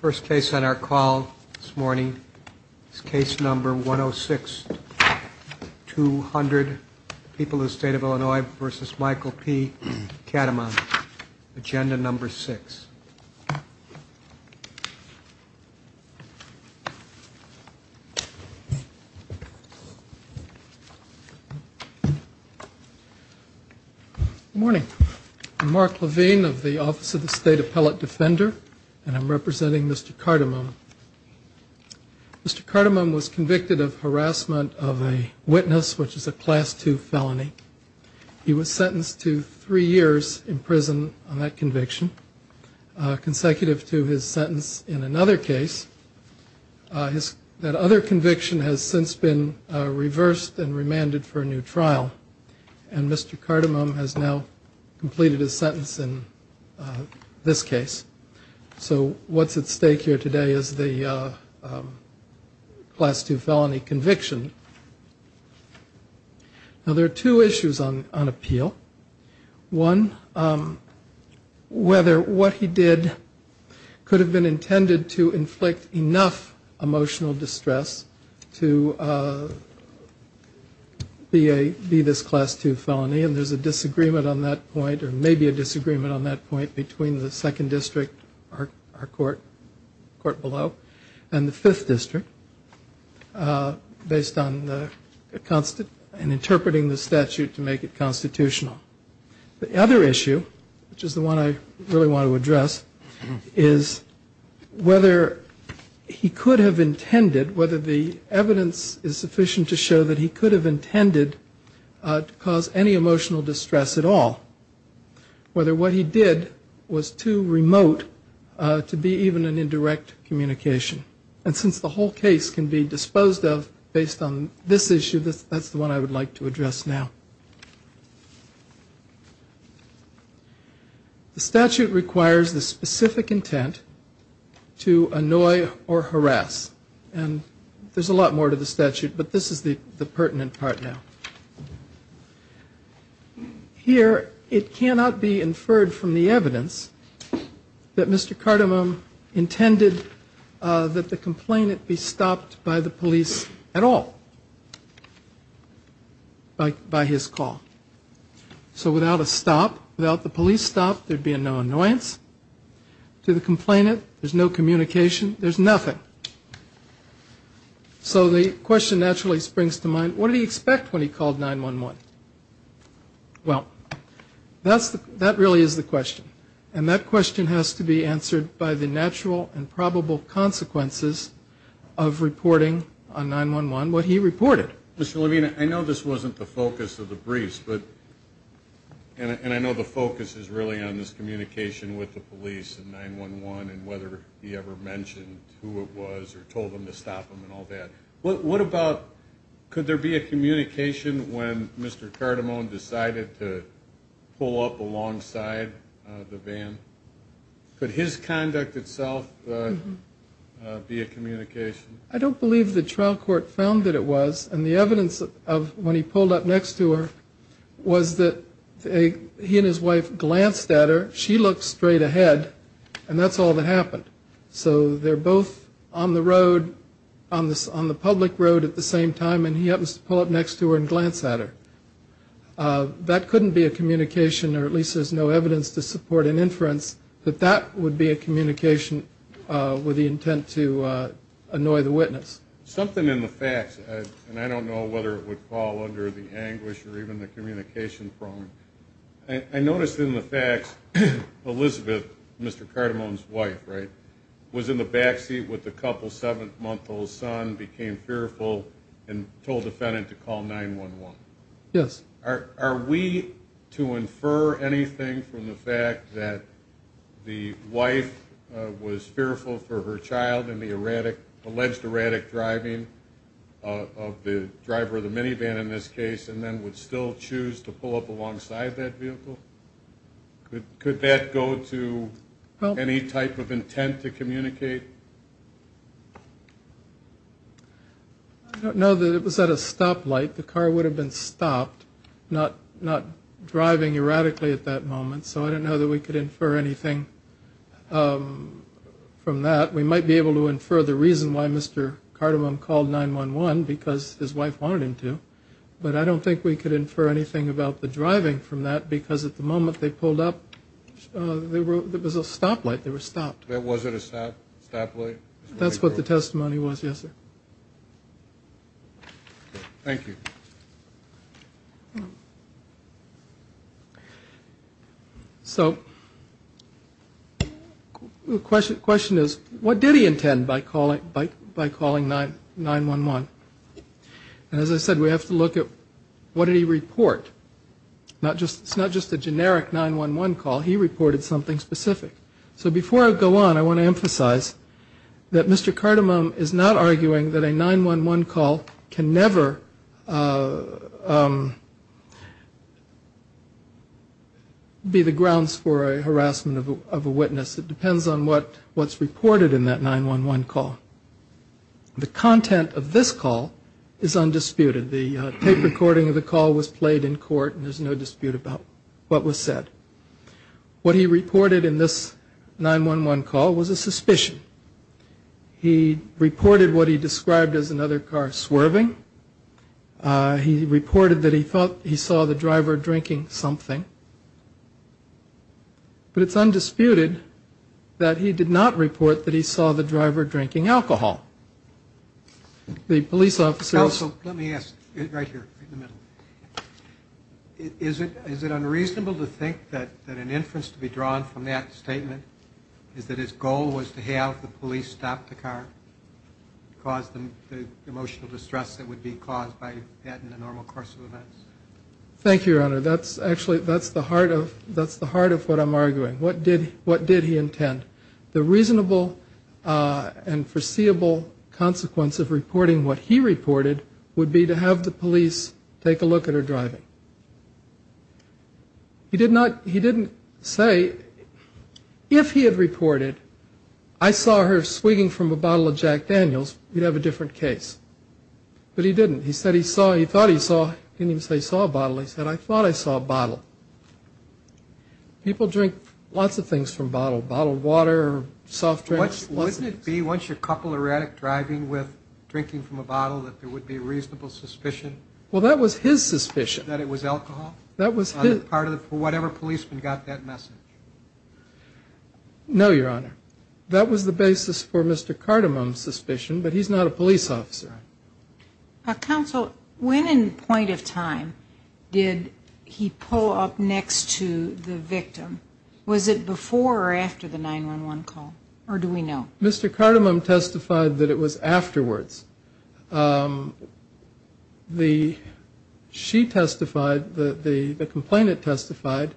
First case on our call this morning is case number 106-200, People of the State of Illinois v. Michael P. Cardamone, agenda number 6. Good morning. I'm Mark Levine of the Office of the State Appellate Defender, and I'm representing Mr. Cardamone. Mr. Cardamone was convicted of harassment of a witness, which is a Class II felony. He was sentenced to three years in prison on that conviction, consecutive to his sentence in another case. That other conviction has since been reversed and remanded for a new trial, and Mr. Cardamone has now completed his sentence in this case. So what's at stake here today is the Class II felony conviction. Now there are two issues on appeal. One, whether what he did could have been intended to inflict enough emotional distress to be this Class II felony, and there's a disagreement on that point, between the Second District, our court below, and the Fifth District, based on the, and interpreting the statute to make it constitutional. The other issue, which is the one I really want to address, is whether he could have intended, whether the evidence is sufficient to show that he could have intended to cause any emotional distress at all. Whether what he did was too remote to be even an indirect communication, and since the whole case can be disposed of based on this issue, that's the one I would like to address now. The statute requires the specific intent to annoy or harass, and there's a lot more to the statute, but this is the pertinent part now. Here, it cannot be inferred from the evidence that Mr. Cardamone intended that the complainant be stopped by the police at all, by his call. So without a stop, without the police stop, there'd be no annoyance to the complainant, there's no communication, there's nothing. So the question naturally springs to mind, what did he expect when he called 9-1-1? Well, that really is the question, and that question has to be answered by the natural and probable consequences of reporting on 9-1-1 what he reported. Mr. Levine, I know this wasn't the focus of the briefs, and I know the focus is really on this communication with the police and 9-1-1 and whether he ever mentioned who it was or told them to stop him and all that. What about, could there be a communication when Mr. Cardamone decided to pull up alongside the van? Could his conduct itself be a communication? I don't believe the trial court found that it was, and the evidence of when he pulled up next to her was that he and his wife glanced at her, she looked straight ahead, and that's all that happened. So they're both on the road, on the public road at the same time, and he happens to pull up next to her and glance at her. That couldn't be a communication, or at least there's no evidence to support an inference, that that would be a communication with the intent to annoy the witness. Something in the facts, and I don't know whether it would fall under the anguish or even the communication prong, I noticed in the facts Elizabeth, Mr. Cardamone's wife, right, was in the back seat with the couple's 7-month-old son, became fearful, and told the defendant to call 9-1-1. Yes. Are we to infer anything from the fact that the wife was fearful for her child and the alleged erratic driving of the driver of the minivan in this case, and then would still choose to pull up alongside that vehicle? Could that go to any type of intent to communicate? I don't know that it was at a stoplight. The car would have been stopped, not driving erratically at that moment, so I don't know that we could infer anything from that. We might be able to infer the reason why Mr. Cardamone called 9-1-1, because his wife wanted him to, but I don't think we could infer anything about the driving from that, because at the moment they pulled up, there was a stoplight, they were stopped. Was it a stoplight? That's what the testimony was, yes, sir. Thank you. So the question is, what did he intend by calling 9-1-1? And as I said, we have to look at what did he report? It's not just a generic 9-1-1 call, he reported something specific. So before I go on, I want to emphasize that Mr. Cardamone is not arguing that a 9-1-1 call can never be the grounds for a harassment of a witness. It depends on what's reported in that 9-1-1 call. The content of this call is undisputed. The tape recording of the call was played in court, and there's no dispute about what was said. What he reported in this 9-1-1 call was a suspicion. He reported what he described as another car swerving. He reported that he thought he saw the driver drinking something. But it's undisputed that he did not report that he saw the driver drinking alcohol. The police officers... Counsel, let me ask, right here in the middle. Is it unreasonable to think that an inference to be drawn from that statement is that his goal was to have the police stop the car, cause the emotional distress that would be caused by that in the normal course of events? Thank you, Your Honor. Actually, that's the heart of what I'm arguing. What did he intend? The reasonable and foreseeable consequence of reporting what he reported would be to have the police take a look at her driving. He didn't say, if he had reported, I saw her swinging from a bottle of Jack Daniels, we'd have a different case. But he didn't. He said he saw, he thought he saw, he didn't even say he saw a bottle. He said, I thought I saw a bottle. People drink lots of things from bottles, bottled water, soft drinks. Wouldn't it be, once you're a couple erratic driving with drinking from a bottle, that there would be reasonable suspicion? Well, that was his suspicion. That it was alcohol? That was his... On the part of whatever policeman got that message. No, Your Honor. That was the basis for Mr. Cardamom's suspicion, but he's not a police officer. Counsel, when in point of time did he pull up next to the victim? Was it before or after the 911 call? Or do we know? Mr. Cardamom testified that it was afterwards. She testified, the complainant testified,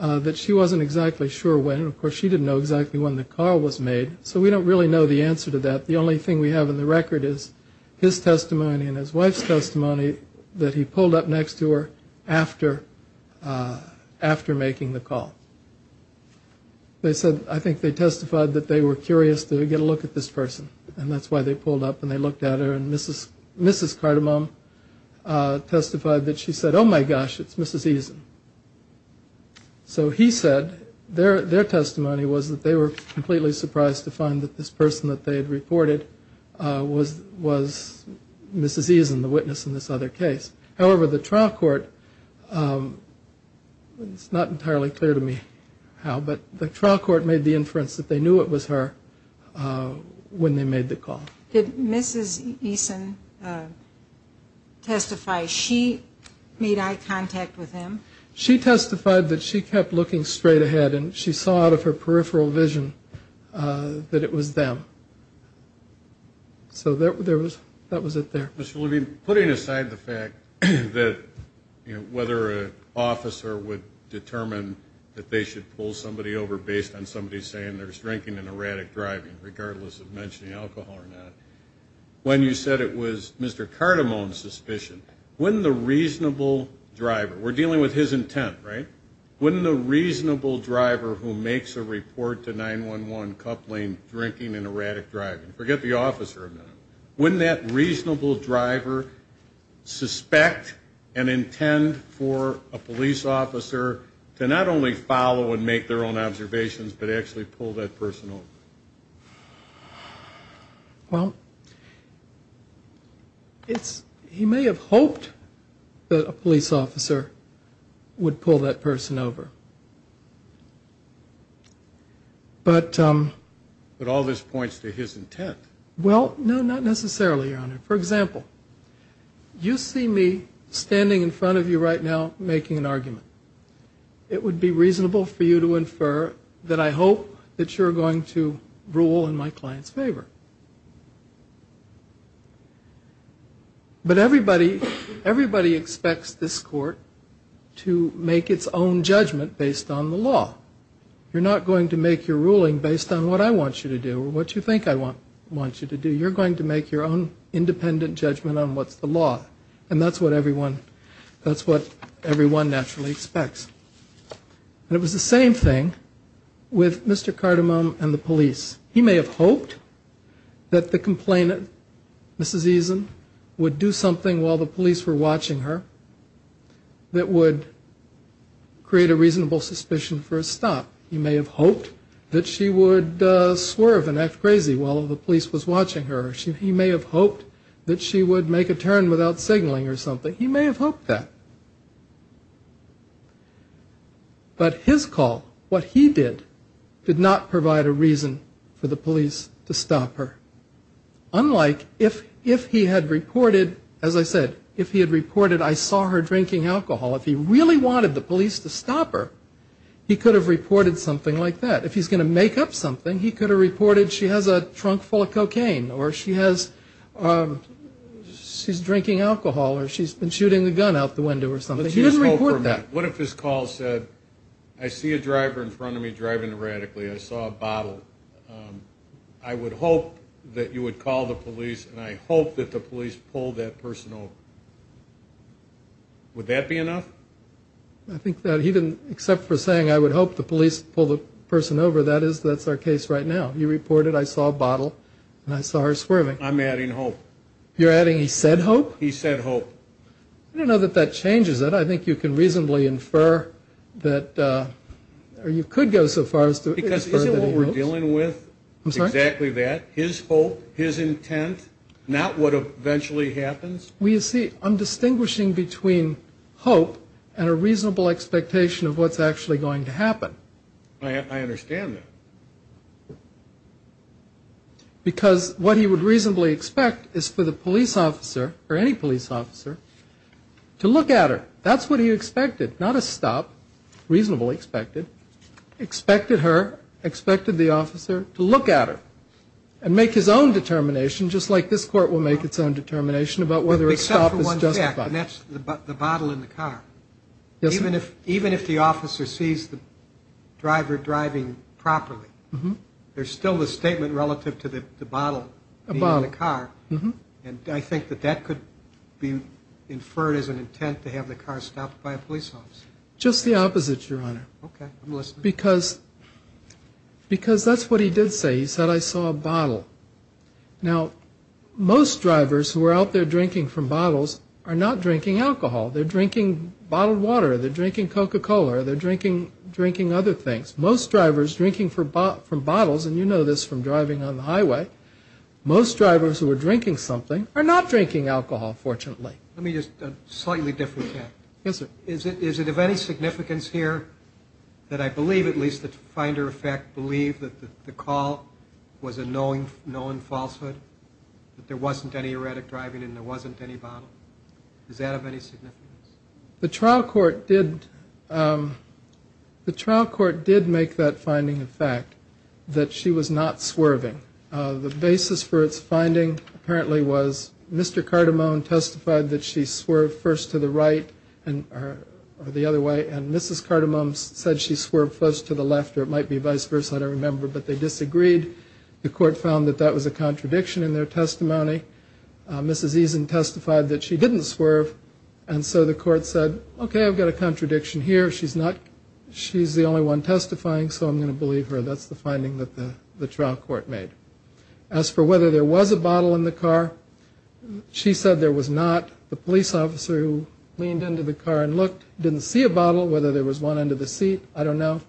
that she wasn't exactly sure when. Of course, she didn't know exactly when the call was made, so we don't really know the answer to that. The only thing we have in the record is his testimony and his wife's testimony that he pulled up next to her after making the call. They said, I think they testified that they were curious to get a look at this person. And that's why they pulled up and they looked at her. And Mrs. Cardamom testified that she said, oh, my gosh, it's Mrs. Eason. So he said their testimony was that they were completely surprised to find that this person that they had reported was Mrs. Eason, the witness in this other case. However, the trial court, it's not entirely clear to me how, but the trial court made the inference that they knew it was her when they made the call. Did Mrs. Eason testify? She made eye contact with him? She testified that she kept looking straight ahead and she saw out of her peripheral vision that it was them. So that was it there. Mr. Levine, putting aside the fact that, you know, whether an officer would determine that they should pull somebody over based on somebody saying there's drinking and erratic driving, regardless of mentioning alcohol or not, when you said it was Mr. Cardamom's suspicion, wouldn't the reasonable driver, we're dealing with his intent, right? Wouldn't the reasonable driver who makes a report to 911 coupling drinking and erratic driving, forget the officer, wouldn't that reasonable driver suspect and intend for a police officer to not only follow and make their own observations, but actually pull that person over? Well, it's, he may have hoped that a police officer would pull that person over. But... But all this points to his intent. Well, no, not necessarily, Your Honor. For example, you see me standing in front of you right now making an argument. It would be reasonable for you to infer that I hope that you're going to rule in my client's favor. But everybody, everybody expects this court to make its own judgment based on the law. You're not going to make your ruling based on what I want you to do or what you think I want you to do. You're going to make your own independent judgment on what's the law. And that's what everyone, that's what everyone naturally expects. And it was the same thing with Mr. Cardamom and the police. He may have hoped that the complainant, Mrs. Eason, would do something while the police were watching her that would create a reasonable suspicion for a stop. He may have hoped that she would swerve and act crazy while the police was watching her. He may have hoped that she would make a turn without signaling or something. He may have hoped that. But his call, what he did, did not provide a reason for the police to stop her. Unlike if he had reported, as I said, if he had reported I saw her drinking alcohol, if he really wanted the police to stop her, he could have reported something like that. If he's going to make up something, he could have reported she has a trunk full of cocaine or she's drinking alcohol or she's been shooting a gun out the window or something. He didn't report that. What if his call said, I see a driver in front of me driving erratically. I saw a bottle. I would hope that you would call the police, and I hope that the police pull that person over. Would that be enough? I think that even except for saying I would hope the police pull the person over, that's our case right now. You reported I saw a bottle and I saw her swerving. I'm adding hope. You're adding he said hope? He said hope. I don't know that that changes it. I think you can reasonably infer that you could go so far as to infer that he hoped. Because isn't what we're dealing with exactly that, his hope, his intent, not what eventually happens? Well, you see, I'm distinguishing between hope and a reasonable expectation of what's actually going to happen. I understand that. Because what he would reasonably expect is for the police officer or any police officer to look at her. That's what he expected, not a stop, reasonably expected. Expected her, expected the officer to look at her and make his own determination, just like this court will make its own determination about whether a stop is justified. Except for one fact, and that's the bottle in the car. Yes, sir. Even if the officer sees the driver driving properly, there's still the statement relative to the bottle being in the car. And I think that that could be inferred as an intent to have the car stopped by a police officer. Just the opposite, Your Honor. Okay, I'm listening. Because that's what he did say. He said I saw a bottle. Now, most drivers who are out there drinking from bottles are not drinking alcohol. They're drinking bottled water. They're drinking Coca-Cola. They're drinking other things. Most drivers drinking from bottles, and you know this from driving on the highway, most drivers who are drinking something are not drinking alcohol, fortunately. Let me ask a slightly different question. Yes, sir. Do you believe that the call was a known falsehood, that there wasn't any heretic driving and there wasn't any bottle? Does that have any significance? The trial court did make that finding a fact, that she was not swerving. The basis for its finding apparently was Mr. Cardamone testified that she swerved first to the right or the other way, and Mrs. Cardamone said she swerved first to the left or it might be vice versa, I don't remember, but they disagreed. The court found that that was a contradiction in their testimony. Mrs. Eason testified that she didn't swerve, and so the court said, okay, I've got a contradiction here. She's the only one testifying, so I'm going to believe her. That's the finding that the trial court made. As for whether there was a bottle in the car, she said there was not. The police officer who leaned into the car and looked didn't see a bottle, whether there was one under the seat, I don't know.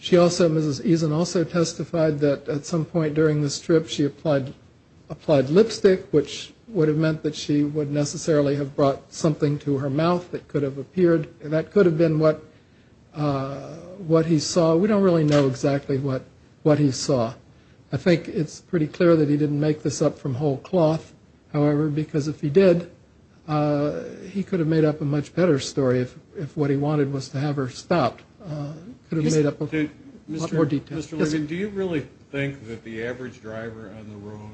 Mrs. Eason also testified that at some point during the strip she applied lipstick, which would have meant that she would necessarily have brought something to her mouth that could have appeared, and that could have been what he saw. We don't really know exactly what he saw. I think it's pretty clear that he didn't make this up from whole cloth, however, because if he did, he could have made up a much better story if what he wanted was to have her stopped. He could have made up a lot more detail. Mr. Levin, do you really think that the average driver on the road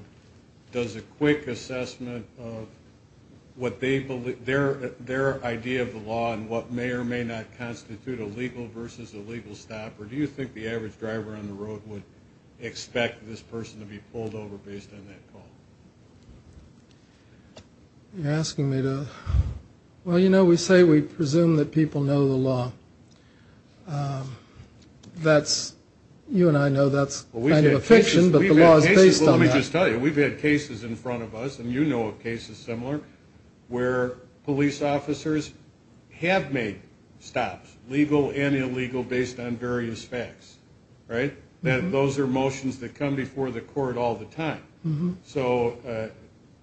does a quick assessment of their idea of the law and what may or may not constitute a legal versus a legal stop, or do you think the average driver on the road would expect this person to be pulled over based on that call? You're asking me to – well, you know, we say we presume that people know the law. That's – you and I know that's kind of a fiction, but the law is based on that. Well, let me just tell you, we've had cases in front of us, and you know of cases similar, where police officers have made stops, legal and illegal, based on various facts, right? Those are motions that come before the court all the time. So,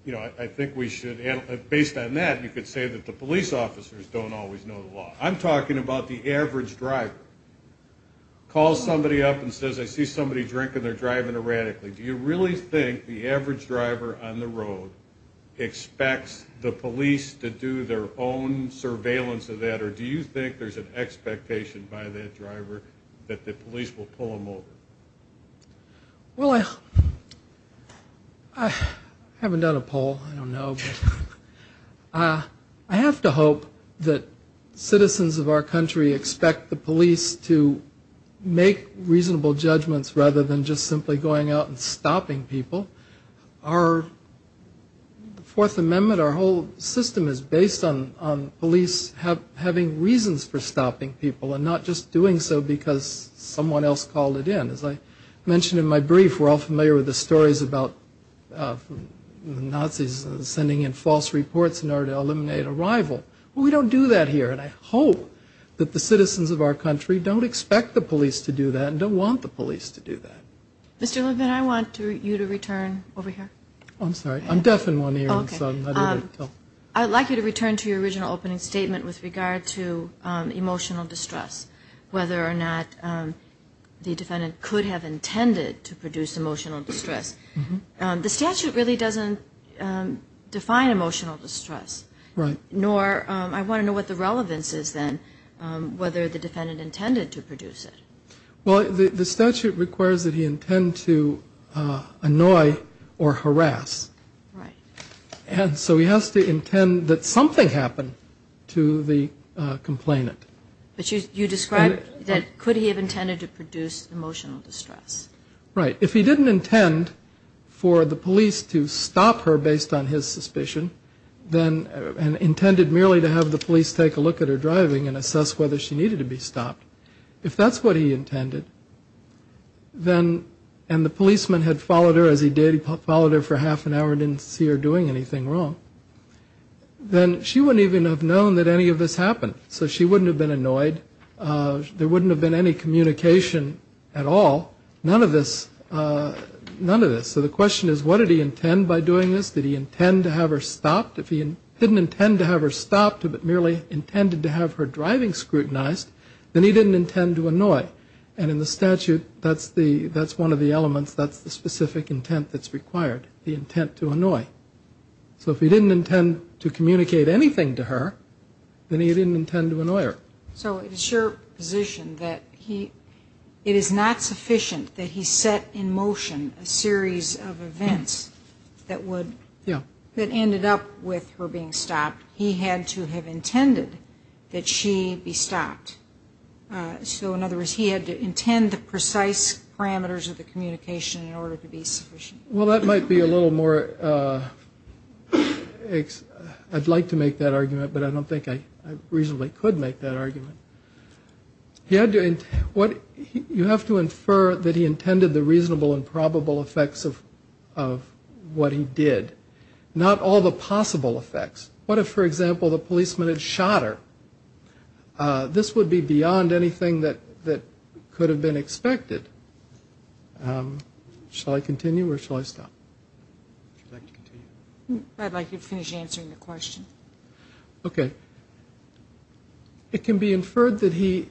you know, I think we should – based on that, you could say that the police officers don't always know the law. I'm talking about the average driver. Call somebody up and says, I see somebody drinking, they're driving erratically. Do you really think the average driver on the road expects the police to do their own surveillance of that, or do you think there's an expectation by that driver that the police will pull them over? Well, I haven't done a poll, I don't know. I have to hope that citizens of our country expect the police to make reasonable judgments rather than just simply going out and stopping people. Our Fourth Amendment, our whole system is based on police having reasons for stopping people and not just doing so because someone else called it in. As I mentioned in my brief, we're all familiar with the stories about the Nazis sending in false reports in order to eliminate a rival. Well, we don't do that here, and I hope that the citizens of our country don't expect the police to do that and don't want the police to do that. Mr. Levin, I want you to return over here. I'm sorry, I'm deaf in one ear. I'd like you to return to your original opening statement with regard to emotional distress, whether or not the defendant could have intended to produce emotional distress. The statute really doesn't define emotional distress, nor I want to know what the relevance is then, whether the defendant intended to produce it. Well, the statute requires that he intend to annoy or harass. Right. And so he has to intend that something happen to the complainant. But you described that could he have intended to produce emotional distress? Right. If he didn't intend for the police to stop her based on his suspicion and intended merely to have the police take a look at her driving and assess whether she needed to be stopped, if that's what he intended and the policeman had followed her as he did, followed her for half an hour and didn't see her doing anything wrong, then she wouldn't even have known that any of this happened. So she wouldn't have been annoyed. There wouldn't have been any communication at all, none of this. So the question is, what did he intend by doing this? Did he intend to have her stopped? If he didn't intend to have her stopped, but merely intended to have her driving scrutinized, then he didn't intend to annoy. And in the statute, that's one of the elements, that's the specific intent that's required, the intent to annoy. So if he didn't intend to communicate anything to her, then he didn't intend to annoy her. So it's your position that it is not sufficient that he set in motion a series of events that ended up with her being stopped. He had to have intended that she be stopped. So in other words, he had to intend the precise parameters of the communication in order to be sufficient. Well, that might be a little more, I'd like to make that argument, but I don't think I reasonably could make that argument. You have to infer that he intended the reasonable and probable effects of what he did, not all the possible effects. What if, for example, the policeman had shot her? This would be beyond anything that could have been expected. Shall I continue or shall I stop? I'd like you to finish answering the question. Okay. It can be inferred that he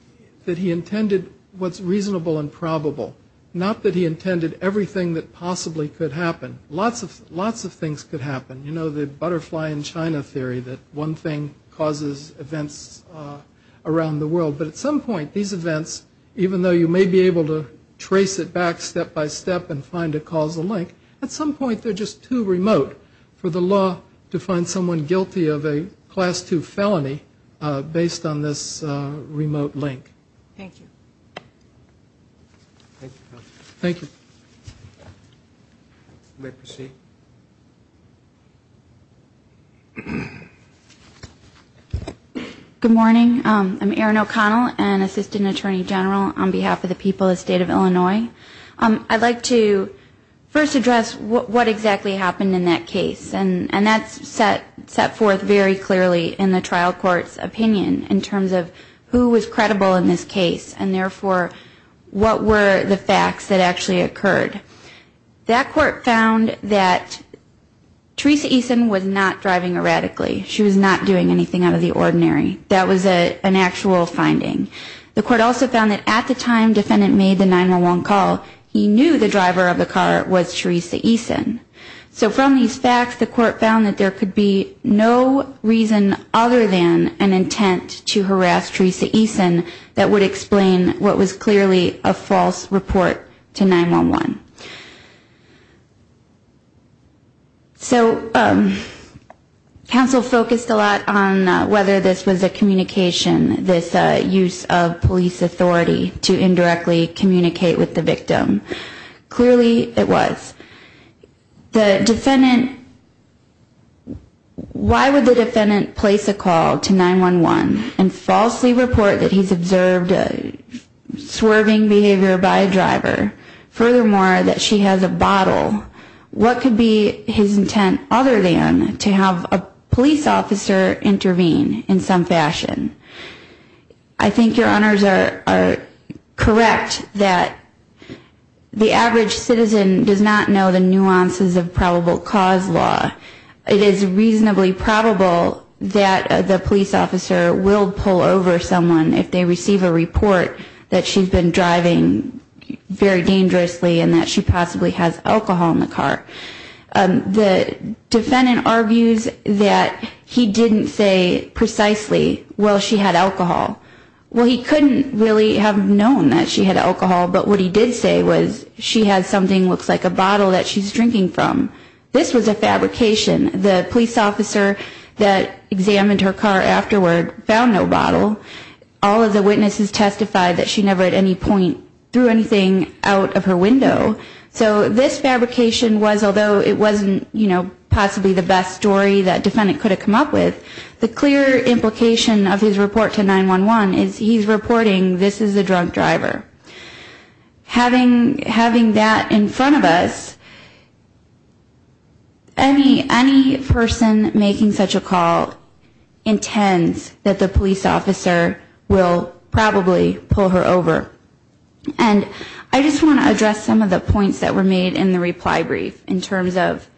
intended what's reasonable and probable, not that he intended everything that possibly could happen. Lots of things could happen. You know the butterfly in China theory that one thing causes events around the world. But at some point these events, even though you may be able to trace it back step by step and find a causal link, at some point they're just too remote for the law to find someone guilty of a Class II felony based on this remote link. Thank you. Thank you. You may proceed. Good morning. I'm Erin O'Connell, an Assistant Attorney General on behalf of the people of the State of Illinois. I'd like to first address what exactly happened in that case, and that's set forth very clearly in the trial court's opinion in terms of who was credible in this case and therefore what were the facts that actually occurred. That court found that Teresa Eason was not driving erratically. She was not doing anything out of the ordinary. That was an actual finding. The court also found that at the time defendant made the 911 call, he knew the driver of the car was Teresa Eason. So from these facts, the court found that there could be no reason other than an intent to harass Teresa Eason that would explain what was clearly a false report to 911. So counsel focused a lot on whether this was a communication, this use of police authority to indirectly communicate with the victim. Clearly it was. The defendant, why would the defendant place a call to 911 and falsely report that he's observed a swerving behavior by a driver? Furthermore, that she has a bottle. What could be his intent other than to have a police officer intervene in some fashion? I think your honors are correct that the average citizen does not know the nuances of probable cause law. It is reasonably probable that the police officer will pull over someone if they receive a report that she's been driving very dangerously and that she possibly has alcohol in the car. The defendant argues that he didn't say precisely, well, she had alcohol. Well, he couldn't really have known that she had alcohol, but what he did say was she has something that looks like a bottle that she's drinking from. This was a fabrication. The police officer that examined her car afterward found no bottle. All of the witnesses testified that she never at any point threw anything out of her window. So this fabrication was, although it wasn't possibly the best story that the defendant could have come up with, the clear implication of his report to 911 is he's reporting this is a drunk driver. Having that in front of us, any person making such a call intends that the police officer will probably pull her over. And I just want to address some of the points that were made in the reply brief in terms of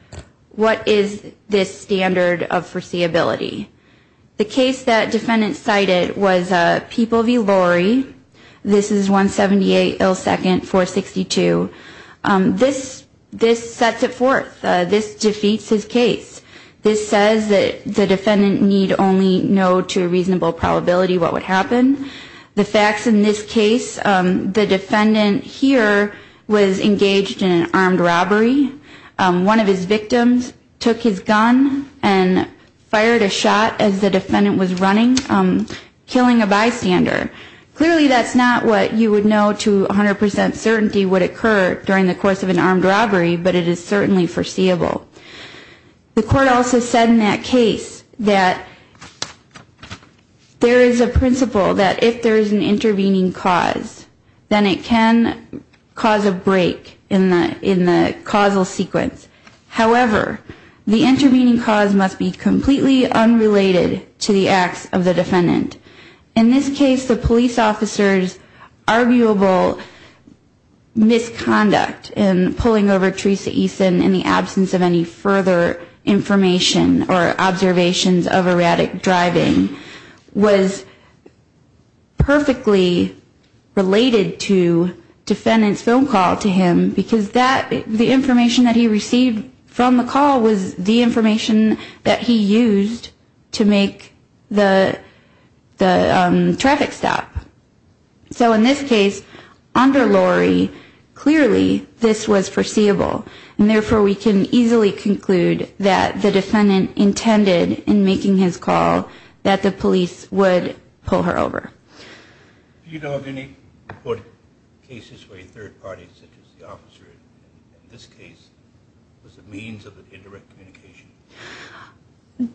what is this standard of foreseeability. The case that defendant cited was People v. Lurie. This is 178 L2 462. This sets it forth. This defeats his case. This says that the defendant need only know to a reasonable probability what would happen. The facts in this case, the defendant here was engaged in an armed robbery. One of his victims took his gun and fired a shot as the defendant was running, killing a bystander. Clearly that's not what you would know to 100% certainty would occur during the course of an armed robbery, but it is certainly foreseeable. The court also said in that case that there is a principle that if there is an intervening cause, then it can cause a break in the causal sequence. However, the intervening cause must be completely unrelated to the acts of the defendant. In this case, the police officer's arguable misconduct in pulling over Teresa Eason in the absence of any further information or observations of erratic driving was perfectly related to defendant's phone call to him, because the information that he received from the call was the information that he used to make the traffic stop. So in this case, under Lori, clearly this was foreseeable, and therefore we can easily conclude that the defendant intended in making his call that the police would pull her over. Do you know of any reported cases where a third party, such as the officer in this case, was a means of indirect communication?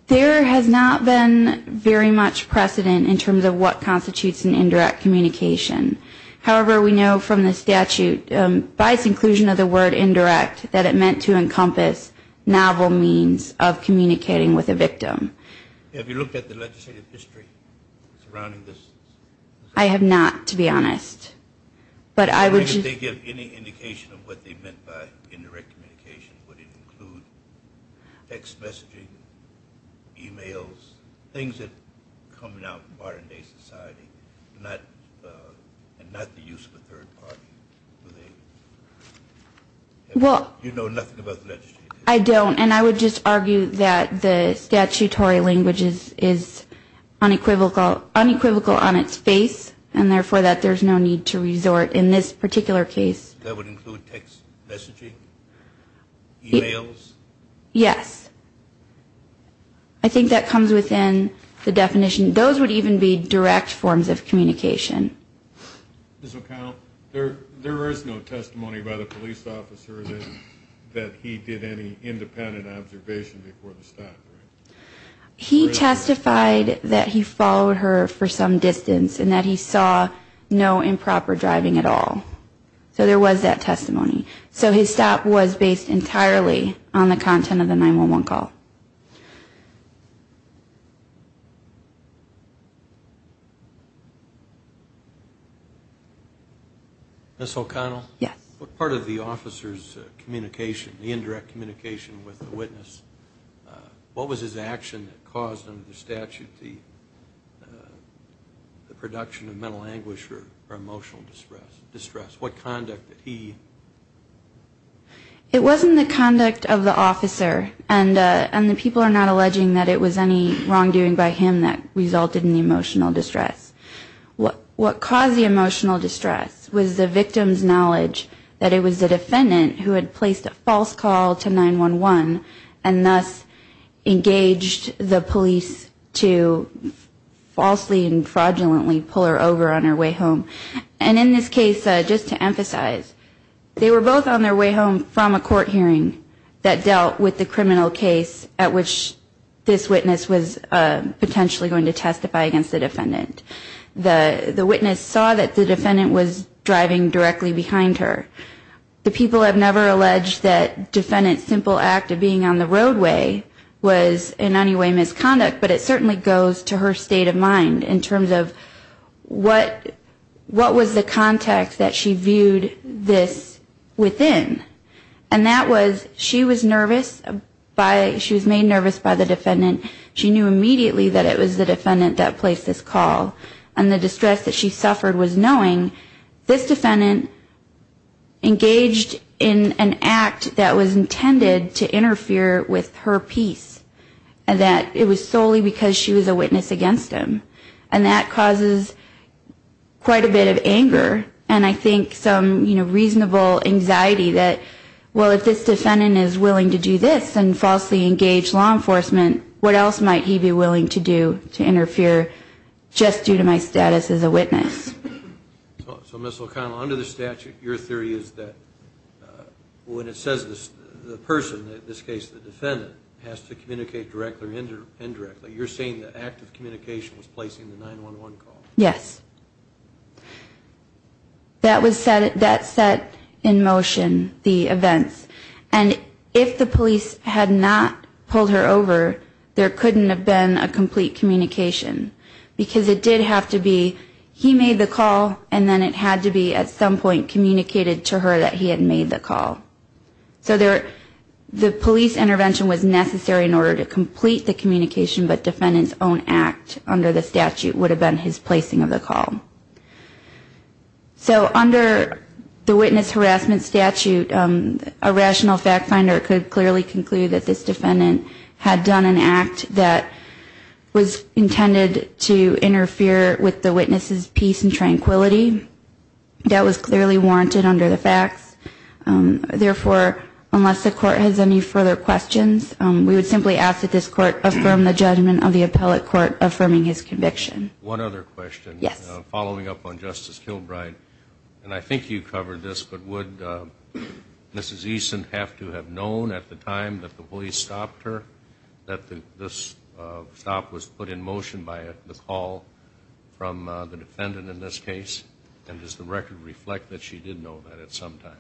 There has not been very much precedent in terms of what constitutes an indirect communication. However, we know from the statute, by its inclusion of the word indirect, that it meant to encompass novel means of communicating with a victim. Have you looked at the legislative history surrounding this? I have not, to be honest. If they give any indication of what they meant by indirect communication, would it include text messaging, e-mails, things that are coming out of modern day society, and not the use of a third party? You know nothing about the legislative history? I don't, and I would just argue that the statutory language is unequivocal on its face, and therefore that there's no need to resort in this particular case. That would include text messaging, e-mails? Yes. I think that comes within the definition. Those would even be direct forms of communication. Ms. O'Connell, there is no testimony by the police officer that he did any independent observation before the stop, right? He testified that he followed her for some distance, and that he saw no improper driving at all. So there was that testimony. So his stop was based entirely on the content of the 911 call. Ms. O'Connell? Yes. What part of the officer's communication, the indirect communication with the witness, what was his action that caused, under the statute, the production of mental anguish or emotional distress? What conduct did he... It wasn't the conduct of the officer, and the people are not alleging that it was any wrongdoing by him that resulted in the emotional distress. What caused the emotional distress was the victim's knowledge that it was the defendant who had placed a false call to 911, and thus engaged the police to falsely and fraudulently pull her over on her way home. And in this case, just to emphasize, they were both on their way home from a court hearing that dealt with the criminal case at which this witness was potentially going to testify against the defendant. The witness saw that the defendant was driving directly behind her. The people have never alleged that defendant's simple act of being on the roadway was in any way misconduct, but it certainly goes to her state of mind in terms of what was the context that she viewed this within. And that was, she was nervous, she was made nervous by the defendant. She knew immediately that it was the defendant that placed this call, and the distress that she suffered was knowing this defendant engaged in an act that was intended to interfere with her peace, and that it was solely because she was a witness against him. And that causes quite a bit of anger, and I think some reasonable anxiety that, well, if this defendant is willing to do this and falsely engage law enforcement, what else might he be willing to do to interfere just due to my status as a witness? So, Ms. O'Connell, under the statute, your theory is that when it says the person, in this case the defendant, has to communicate directly or indirectly, you're saying the act of communication was placing the 911 call? Yes. That set in motion the events. And if the police had not pulled her over, there couldn't have been a complete communication, because it did have to be he made the call, and then it had to be at some point communicated to her that he had made the call. So the police intervention was necessary in order to complete the communication, but defendant's own act under the statute would have been his placing of the call. So under the witness harassment statute, a rational fact finder could clearly conclude that this defendant had done an act that was intended to interfere with the witness's peace and tranquility. That was clearly warranted under the facts. Therefore, unless the court has any further questions, we would simply ask that this court affirm the judgment of the appellate court affirming his conviction. One other question. Yes. Following up on Justice Kilbride, and I think you covered this, but would Mrs. Eason have to have known at the time that the police stopped her that this stop was put in motion by the call from the defendant in this case? And does the record reflect that she did know that at some time?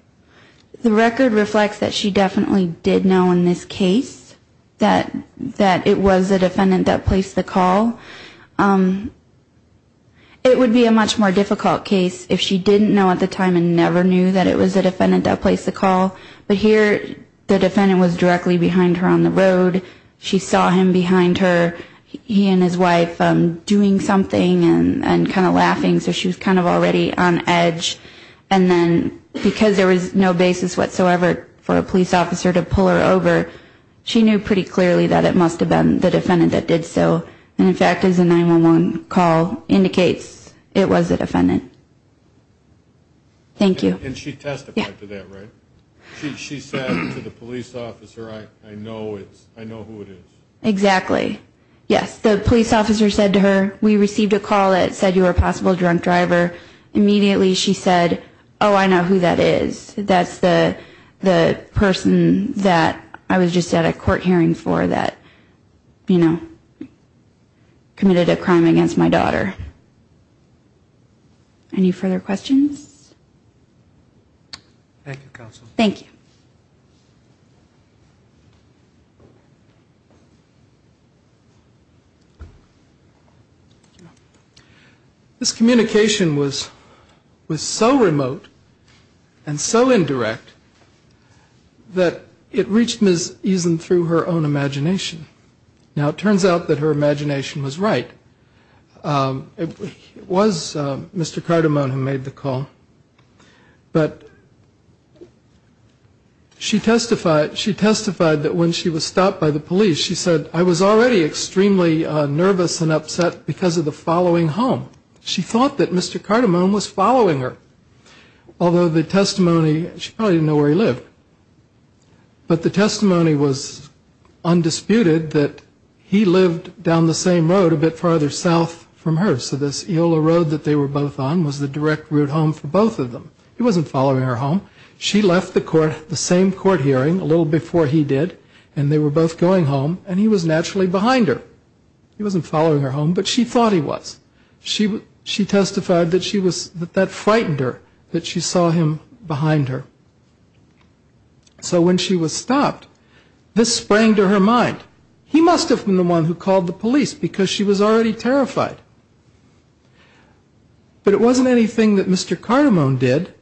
The record reflects that she definitely did know in this case that it was the defendant that placed the call. It would be a much more difficult case if she didn't know at the time and never knew that it was the defendant that placed the call. But here the defendant was directly behind her on the road. She saw him behind her, he and his wife, doing something and kind of laughing, so she was kind of already on edge. And then because there was no basis whatsoever for a police officer to pull her over, she knew pretty clearly that it must have been the defendant that did so. And, in fact, as a 911 call indicates, it was the defendant. Thank you. And she testified to that, right? Yeah. She said to the police officer, I know who it is. Exactly. Yes. The police officer said to her, we received a call that said you were a possible drunk driver. Immediately she said, oh, I know who that is. That's the person that I was just at a court hearing for that, you know, committed a crime against my daughter. Any further questions? Thank you, Counsel. Thank you. Thank you. This communication was so remote and so indirect that it reached Ms. Eason through her own imagination. Now, it turns out that her imagination was right. It was Mr. Cardamone who made the call. But she testified that when she was stopped by the police, she said, I was already extremely nervous and upset because of the following home. She thought that Mr. Cardamone was following her. Although the testimony, she probably didn't know where he lived. But the testimony was undisputed that he lived down the same road a bit farther south from her. So this Eola Road that they were both on was the direct route home for both of them. He wasn't following her home. She left the same court hearing a little before he did, and they were both going home, and he was naturally behind her. He wasn't following her home, but she thought he was. She testified that that frightened her, that she saw him behind her. So when she was stopped, this sprang to her mind. He must have been the one who called the police because she was already terrified. But it wasn't anything that Mr. Cardamone did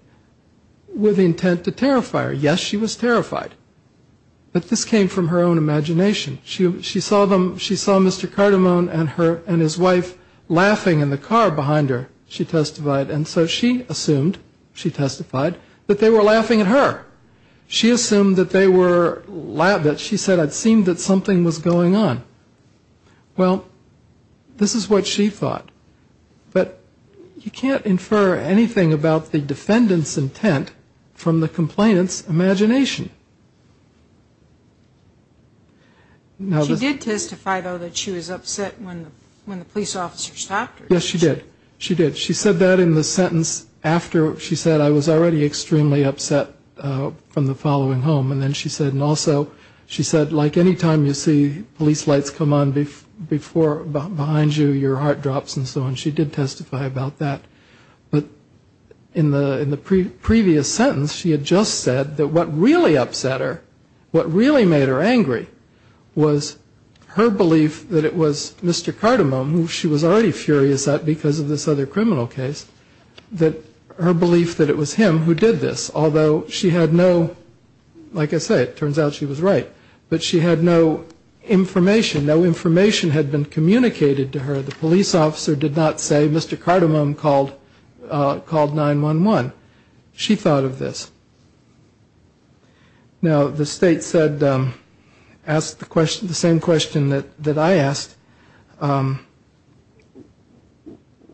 with intent to terrify her. Yes, she was terrified. But this came from her own imagination. She saw Mr. Cardamone and his wife laughing in the car behind her, she testified. And so she assumed, she testified, that they were laughing at her. She assumed that they were laughing, that she said, I'd seen that something was going on. Well, this is what she thought. But you can't infer anything about the defendant's intent from the complainant's imagination. She did testify, though, that she was upset when the police officer stopped her. Yes, she did. She did. She said that in the sentence after she said, I was already extremely upset from the following home. And then she said, and also she said, like any time you see police lights come on behind you, your heart drops and so on. She did testify about that. But in the previous sentence, she had just said that what really upset her, what really made her angry, was her belief that it was Mr. Cardamone, who she was already furious at because of this other criminal case, that her belief that it was him who did this. Although she had no, like I say, it turns out she was right, but she had no information. No information had been communicated to her. The police officer did not say, Mr. Cardamone called 911. She thought of this. Now, the state asked the same question that I asked.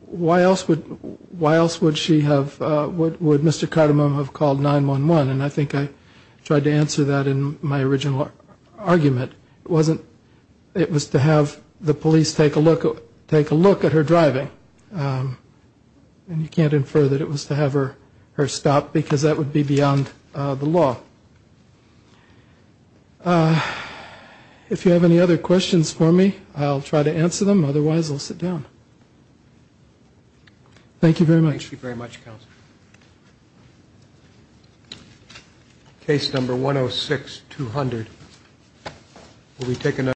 Why else would Mr. Cardamone have called 911? And I think I tried to answer that in my original argument. It was to have the police take a look at her driving. And you can't infer that it was to have her stop, because that would be beyond the law. If you have any other questions for me, I'll try to answer them. Otherwise, I'll sit down. Thank you very much. Thank you very much, Counsel. Case number 106-200. We'll be taking that.